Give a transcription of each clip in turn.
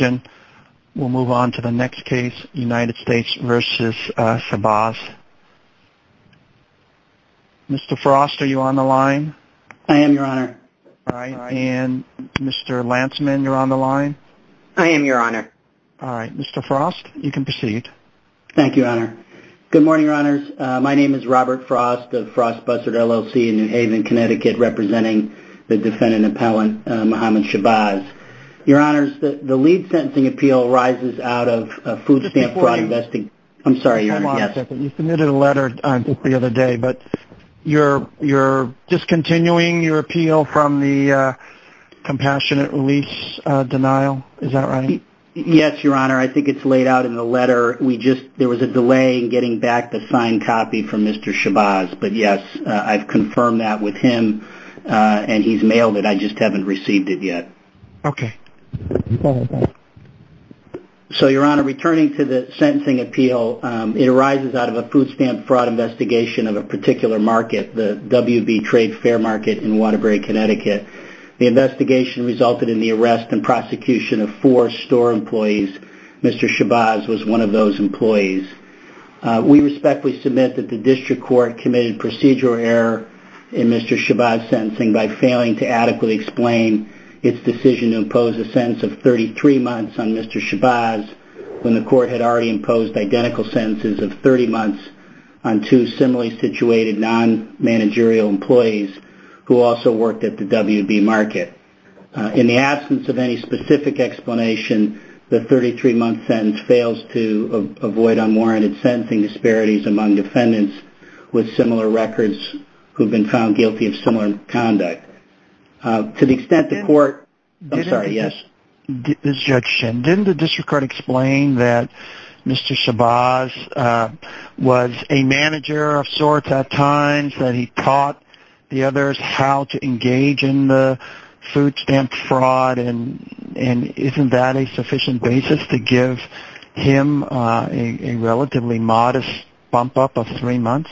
Mr. Frost, are you on the line? I am, Your Honor. All right. And Mr. Lantzman, you're on the line? I am, Your Honor. All right. Mr. Frost, you can proceed. Thank you, Your Honor. Good morning, Your Honors. My name is Robert Frost of Frost-Bussard LLC in New Haven, Connecticut, representing the defendant appellant, Muhammad Shahbaz. Your Honors, the lead sentencing appeal arises out of a food stamp fraud investigation. I'm sorry, Your Honor. Yes. You submitted a letter just the other day, but you're discontinuing your appeal from the compassionate release denial. Is that right? Yes, Your Honor. I think it's laid out in the letter. There was a delay in getting back the signed copy from Mr. Shahbaz. But yes, I've not received it yet. Okay. So, Your Honor, returning to the sentencing appeal, it arises out of a food stamp fraud investigation of a particular market, the WB Trade Fair market in Waterbury, Connecticut. The investigation resulted in the arrest and prosecution of four store employees. Mr. Shahbaz was one of those employees. We respectfully submit that the district court committed procedural error in Mr. Shahbaz's sentencing by failing to adequately explain its decision to impose a sentence of 33 months on Mr. Shahbaz when the court had already imposed identical sentences of 30 months on two similarly situated non-managerial employees who also worked at the WB market. In the absence of any specific explanation, the 33-month sentence fails to avoid unwarranted sentencing disparities among defendants with similar records who have been found guilty of similar conduct. To the extent the court... I'm sorry, yes? Didn't the district court explain that Mr. Shahbaz was a manager of sorts at times, that he taught the others how to engage in the case? Was him a relatively modest bump-up of three months?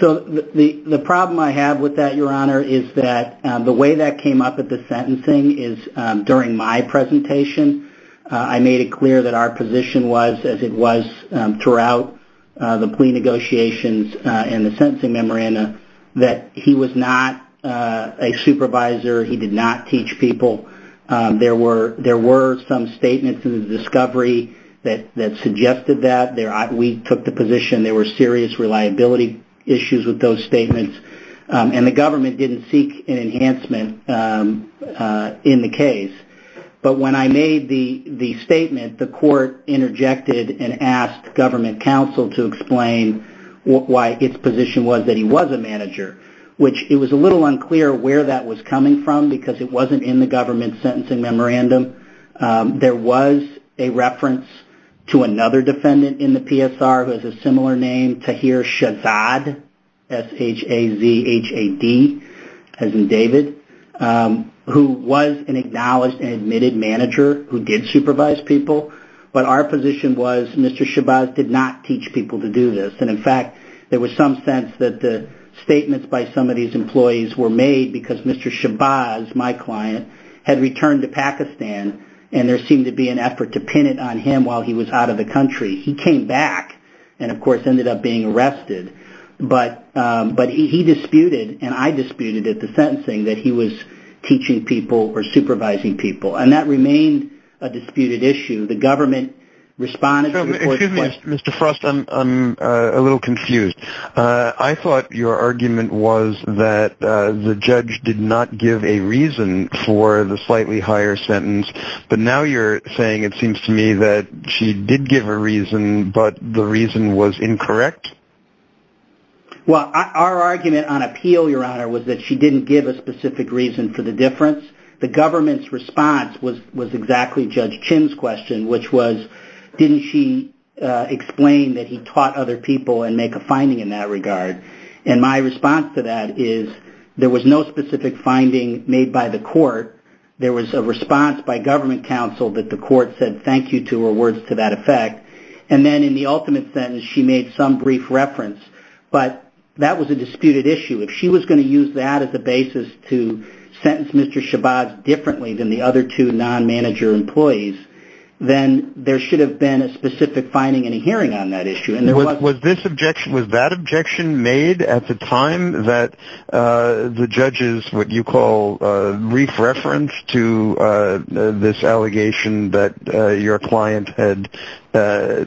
So the problem I have with that, Your Honor, is that the way that came up at the sentencing is during my presentation, I made it clear that our position was, as it was throughout the plea negotiations and the sentencing memoranda, that he was not a supervisor. He did not teach people. There were some statements in the discovery that suggested that. We took the position there were serious reliability issues with those statements, and the government didn't seek an enhancement in the case. But when I made the statement, the court interjected and asked government counsel to explain why its I'm a little unclear where that was coming from, because it wasn't in the government sentencing memorandum. There was a reference to another defendant in the PSR who has a similar name, Tahir Shahzad, S-H-A-Z-H-A-D, as in David, who was an acknowledged and admitted manager who did supervise people. But our position was Mr. Shahbaz did not teach people to do this. And, in fact, there was some sense that the statements by some of these employees were made because Mr. Shahbaz, my client, had returned to Pakistan and there seemed to be an effort to pin it on him while he was out of the country. He came back and, of course, ended up being arrested. But he disputed and I disputed at the sentencing that he was teaching people or supervising people. And that remained a disputed issue. The government responded. Excuse me, Mr. Frost, I'm a little confused. I thought your argument was that the judge did not give a reason for the slightly higher sentence. But now you're saying it seems to me that she did give a reason, but the reason was incorrect. Well, our argument on appeal, Your Honor, was that she didn't give a specific reason for the difference. The government's response was exactly Judge Chin's question, which was didn't she explain that he taught other people and make a finding in that regard? And my response to that is there was no specific finding made by the court. There was a response by government counsel that the court said thank you to her words to that effect. And then in the ultimate sentence, she made some brief reference. But that was a disputed issue. If she was going to use that as the basis to sentence Mr. Shabazz differently than the other two non-manager employees, then there should have been a specific finding in a hearing on that issue. Was this objection, was that objection made at the time that the judge's what you call brief reference to this client had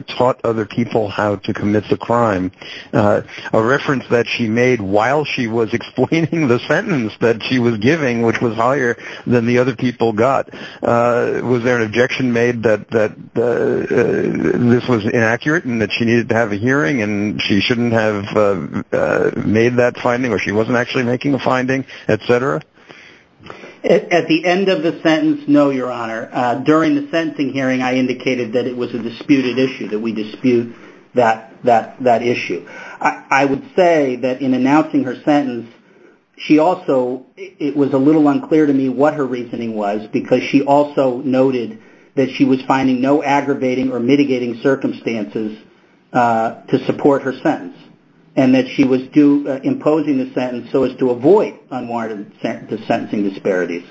taught other people how to commit the crime? A reference that she made while she was explaining the sentence that she was giving, which was higher than the other people got. Was there an objection made that this was inaccurate and that she needed to have a hearing and she shouldn't have made that finding or she wasn't actually making a finding, et cetera? At the end of the sentence, no, Your Honor. During the sentencing hearing, I indicated that it was a disputed issue, that we dispute that issue. I would say that in announcing her sentence, she also, it was a little unclear to me what her reasoning was because she also noted that she was finding no aggravating or mitigating circumstances to support her sentence and that she was imposing the sentence so as to avoid unwarranted sentencing disparities.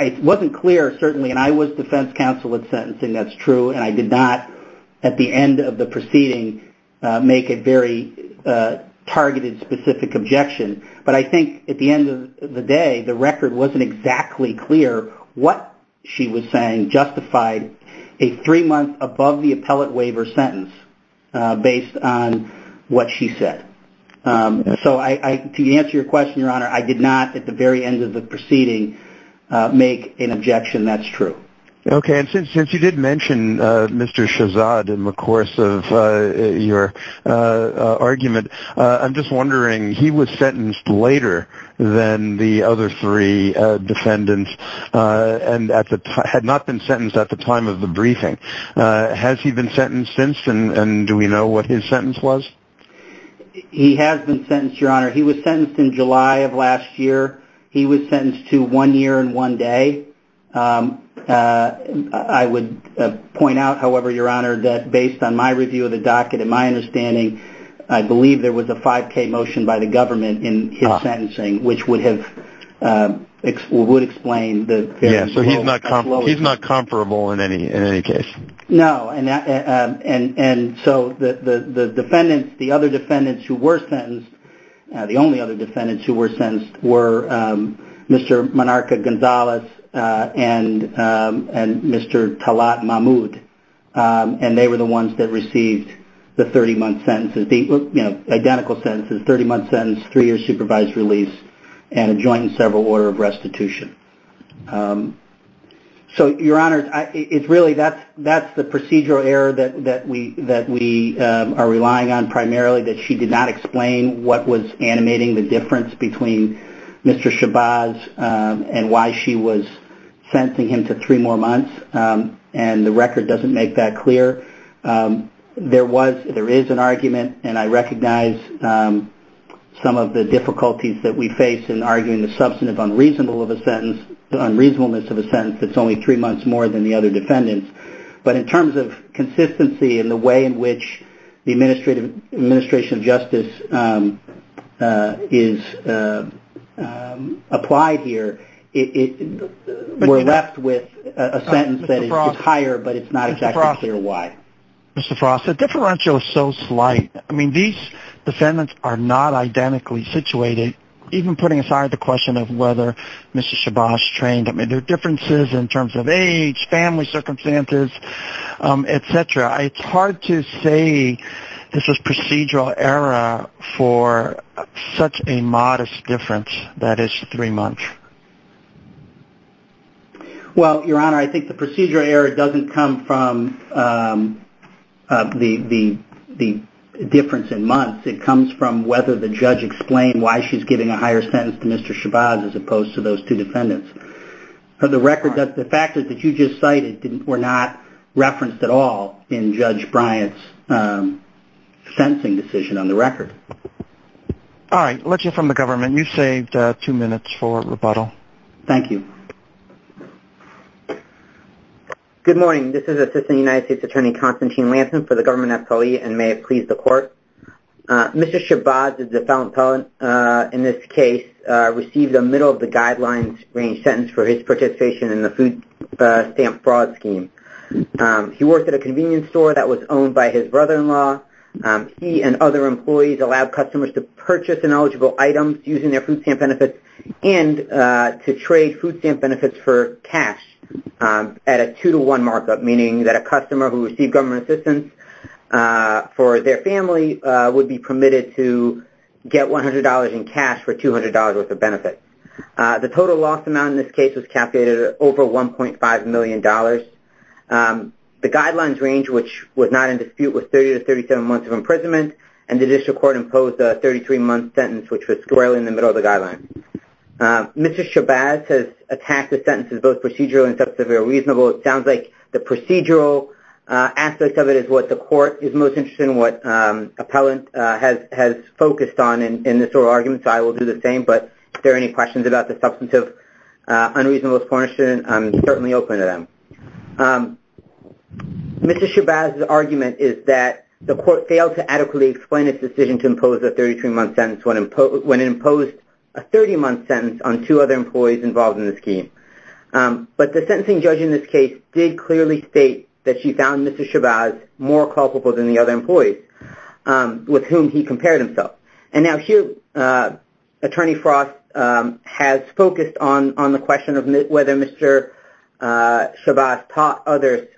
It wasn't clear, certainly, and I was defense counsel at sentencing, that's true, and I did not, at the end of the proceeding, make a very targeted specific objection. But I think at the end of the day, the record wasn't exactly clear what she was saying justified a three month above the appellate waiver sentence based on what she said. So to answer your question, Your Honor, I did not, at the very end of the proceeding, make an objection, that's true. Okay, and since you did mention Mr. Shahzad in the course of your argument, I'm just wondering, he was sentenced later than the other three defendants and had not been sentenced at the time of the briefing. Has he been sentenced since and do we know what his sentence was? He has been sentenced, Your Honor. He was sentenced in July of last year. He was sentenced to one year and one day. I would point out, however, Your Honor, that based on my review of the docket and my understanding, I believe there was a 5K motion by the government in his sentencing, which would have, would explain. So he's not comparable in any case. No, and so the defendants, the other defendants who were sentenced, the only other defendants who were sentenced were Mr. Menarca-Gonzalez and Mr. Talat Mahmoud, and they were the ones that received the 30-month sentences, the identical sentences, 30-month sentence, three-year supervised release, and a joint and several order of restitution. So, Your Honor, it's really, that's the procedural error that we are relying on primarily, that she did not explain what was animating the difference between Mr. Shabazz and why she was sentencing him to three more months, and the record doesn't make that clear. There was, there is an argument, and I recognize some of the difficulties that we face in arguing the substantive unreasonableness of a sentence that's only three months more than the other defendants. But in terms of consistency and the way in which the differentials are applied here, we're left with a sentence that is higher, but it's not exactly clear why. Mr. Frost, the differential is so slight. I mean, these defendants are not identically situated, even putting aside the question of whether Mr. Shabazz trained him. There are differences in terms of age, family circumstances, et cetera. It's hard to say this is procedural error for such a modest difference that is three months. Well, Your Honor, I think the procedural error doesn't come from the difference in months. It comes from whether the judge explained why she's giving a higher sentence to Mr. Shabazz as opposed to those two defendants. The record does, the factors that you just cited were not referenced at all in Judge Bryant's sentencing decision on the record. All right. Let's hear from the government. You've saved two minutes for rebuttal. Thank you. Good morning. This is Assistant United States Attorney Konstantin Lanthan for the government FOE and may it please the court. Mr. Shabazz is the felon in this case, received a middle of the guidelines range sentence for his participation in the food stamp fraud scheme. He worked at a convenience store that was owned by his brother-in-law. He and other employees allowed customers to purchase ineligible items using their food stamp benefits and to trade food stamp benefits for cash at a two-to-one markup, meaning that a customer who received government assistance for their family would be permitted to get $100 in cash for $200 worth of benefits. The total loss amount in this case was calculated at over $1.5 million. The guidelines range, which was not in dispute, was 30 to 37 months of imprisonment and the district court imposed a 33-month sentence, which was squarely in the middle of the guidelines. Mr. Shabazz has attacked the sentence as both procedural and substantive or reasonable. It sounds like the procedural aspect of it is what the court is most interested in, what appellant has focused on in this oral argument, so I will do the same, but if there are any questions about the substantive unreasonable portion, I'm certainly open to them. Mr. Shabazz's argument is that the court failed to adequately explain its decision to impose a 33-month sentence when it imposed a 30-month sentence on two other employees involved in the scheme. But the sentencing judge in this case did clearly state that she found Mr. Shabazz more culpable than the other employees with whom he compared himself. And now here, Attorney Frost has focused on the question of whether Mr. Shabazz taught others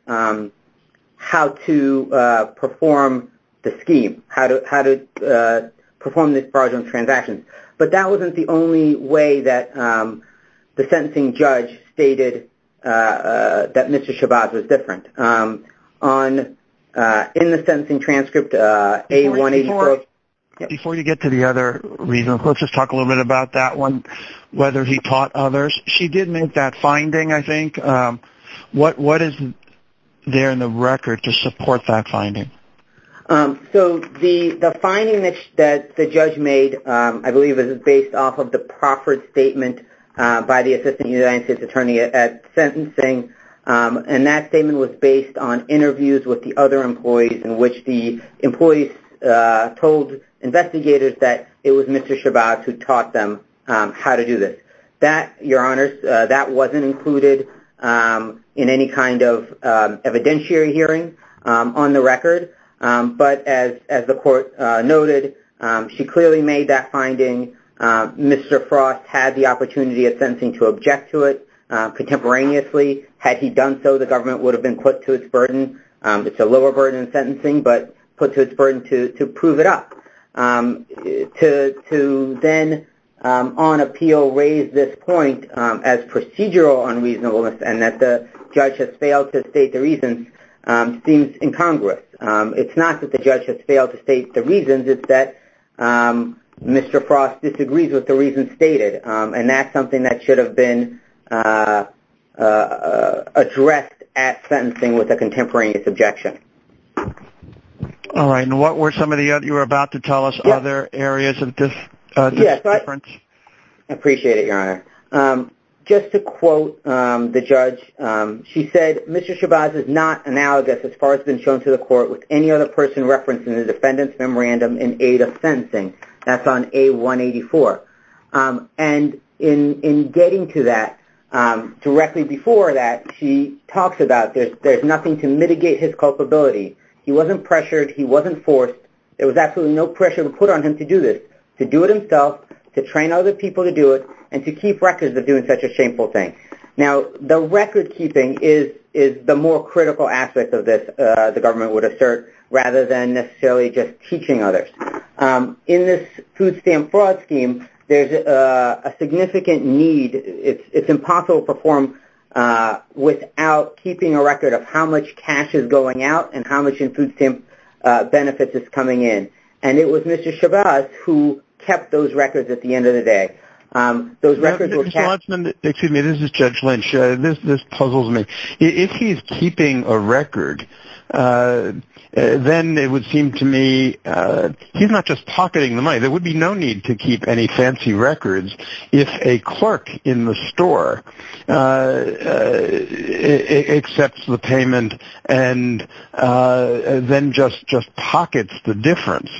how to perform the scheme, how to perform the fraudulent transactions. But that wasn't the only way that the sentencing judge stated that Mr. Shabazz was different. In the sentencing transcript, A184... Before you get to the other reasons, let's just talk a little bit about that one, whether he taught others. She did make that finding, I think. What is there in the record to support that finding? The finding that the judge made, I believe, is based off of the proffered statement by the Assistant United States Attorney at sentencing. And that statement was based on interviews with the other employees in which the employees told investigators that it was Mr. Shabazz who taught them how to do this. That, Your Honors, that wasn't included in any kind of evidentiary hearing on the record. But as the court noted, she clearly made that finding. Mr. Frost had the opportunity at sentencing to object to it contemporaneously. Had he done so, the government would have been put to its burden. It's a lower burden in sentencing, but put to its burden to prove it up. To then, on appeal, raise this point as procedural unreasonableness and that the judge has failed to state the reasons seems incongruous. It's not that the judge has failed to state the reasons. It's that Mr. Frost disagrees with the reasons stated. And that's something that should have been addressed at sentencing with a contemporaneous objection. And what were some of the other, you were about to tell us, other areas of difference? I appreciate it, Your Honor. Just to quote the judge, she said, Mr. Shabazz is not analogous, as far as has been shown to the court, with any other person referenced in the case. And in getting to that, directly before that, she talks about there's nothing to mitigate his culpability. He wasn't pressured. He wasn't forced. There was absolutely no pressure put on him to do this, to do it himself, to train other people to do it, and to keep records of doing such a shameful thing. Now, the record keeping is the more critical aspect of this, the government would assert, rather than necessarily just a significant need, it's impossible to perform without keeping a record of how much cash is going out and how much in food stamp benefits is coming in. And it was Mr. Shabazz who kept those records at the end of the day. Those records were kept. Excuse me, this is Judge Lynch. This puzzles me. If he's keeping a record, then it would seem to me he's not just pocketing the money. There would be no need to keep any fancy records if a clerk in the store accepts the payment and then just pockets the difference.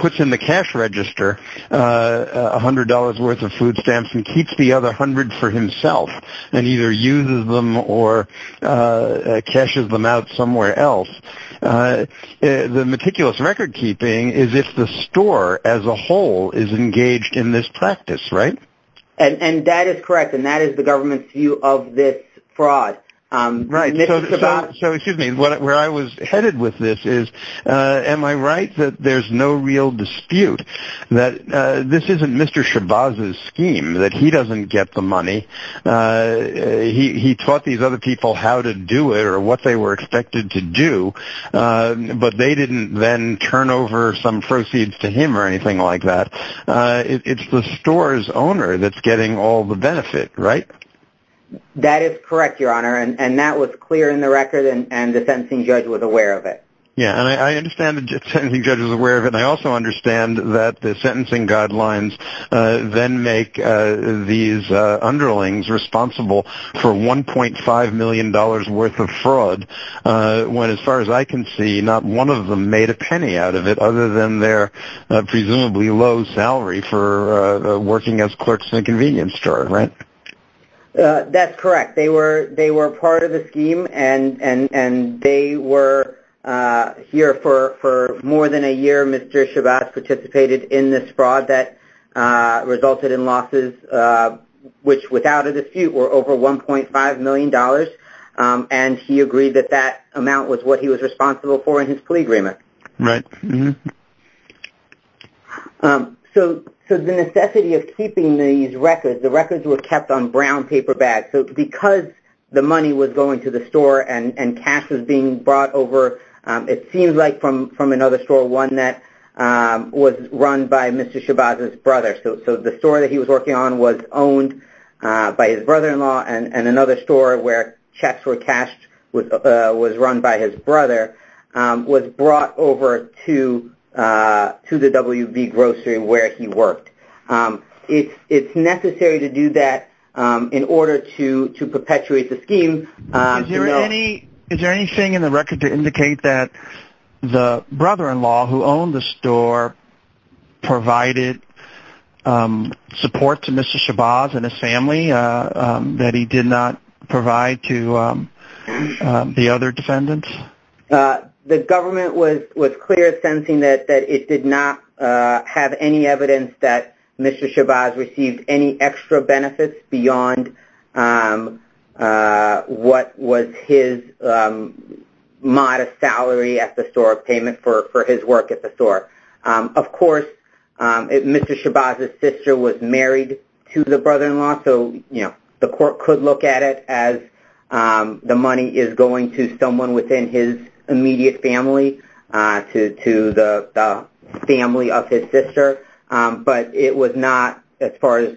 Puts in the cash register $100 worth of food stamps and keeps the other $100 for himself and either uses them or cashes them out somewhere else. The meticulous record keeping is if the store as a whole is engaged in this practice, right? And that is correct, and that is the government's view of this fraud. Right. So, excuse me, where I was headed with this is, am I right that there's no real dispute that this isn't Mr. Shabazz's scheme, that he doesn't get the money? He taught these other people how to do it or what they were expected to do, but they didn't then turn over some proceeds to him or anything like that. It's the store's owner that's getting all the benefit, right? That is correct, Your Honor, and that was clear in the record and the sentencing judge was aware of it. Yeah, and I understand the sentencing judge was aware of it and I also understand that the sentencing guidelines then make these underlings responsible for $1.5 million worth of fraud when, as far as I can see, not one of them made a penny out of it other than their presumably low salary for working as clerks in a convenience store, right? That's correct. They were for more than a year Mr. Shabazz participated in this fraud that resulted in losses which, without a dispute, were over $1.5 million and he agreed that that amount was what he was responsible for in his plea agreement. Right. So, the necessity of keeping these records, the records were kept on brown paper bags, so because the money was going to the store and cash was being brought over, it seems like from another store, one that was run by Mr. Shabazz's brother. So, the store that he was working on was owned by his brother-in-law and another store where checks were cashed, was run by his brother, was brought over to the WV grocery where he worked. It's necessary to do that in order to perpetuate the scheme. Is there anything in the record to indicate that the brother-in-law who owned the store provided support to Mr. Shabazz and his family that he did not provide to the other defendants? The government was clear in sentencing that it did not have any evidence that Mr. Shabazz received any extra benefits beyond what was his modest salary at the store payment for his work at the store. Of course, Mr. Shabazz's sister was married to the brother-in-law, so the court could look at it as the money is going to someone within his immediate family, to the family of his sister, but it was not, as far as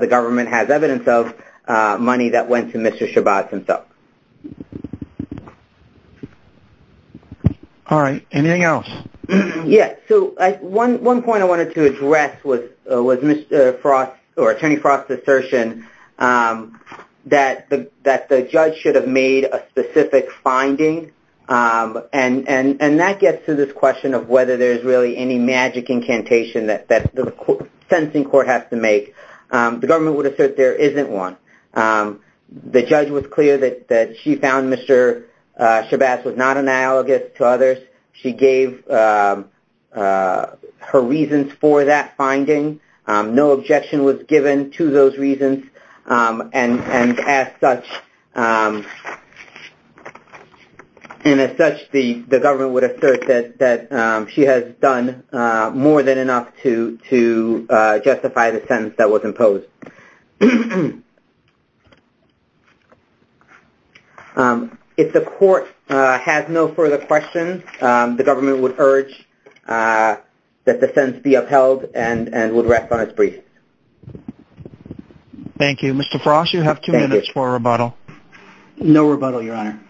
the government has evidence of, money that went to Mr. Shabazz himself. Alright, anything else? Yes, so one point I wanted to address was Attorney Frost's assertion that the judge should have made a specific finding, and that gets to this question of whether there's really any magic incantation that the sentencing court has to make. The government would assert there isn't one. The judge was clear that she found Mr. Shabazz was not analogous to others. She gave her reasons for that finding. No objection was given to those reasons, and as such the government would assert that she has done more than enough to justify the sentence that was imposed. If the court has no further questions, the government would urge that the sentence be upheld and would rest on its briefs. Thank you. Mr. Frost, you have two minutes for a rebuttal. No rebuttal, Your Honor.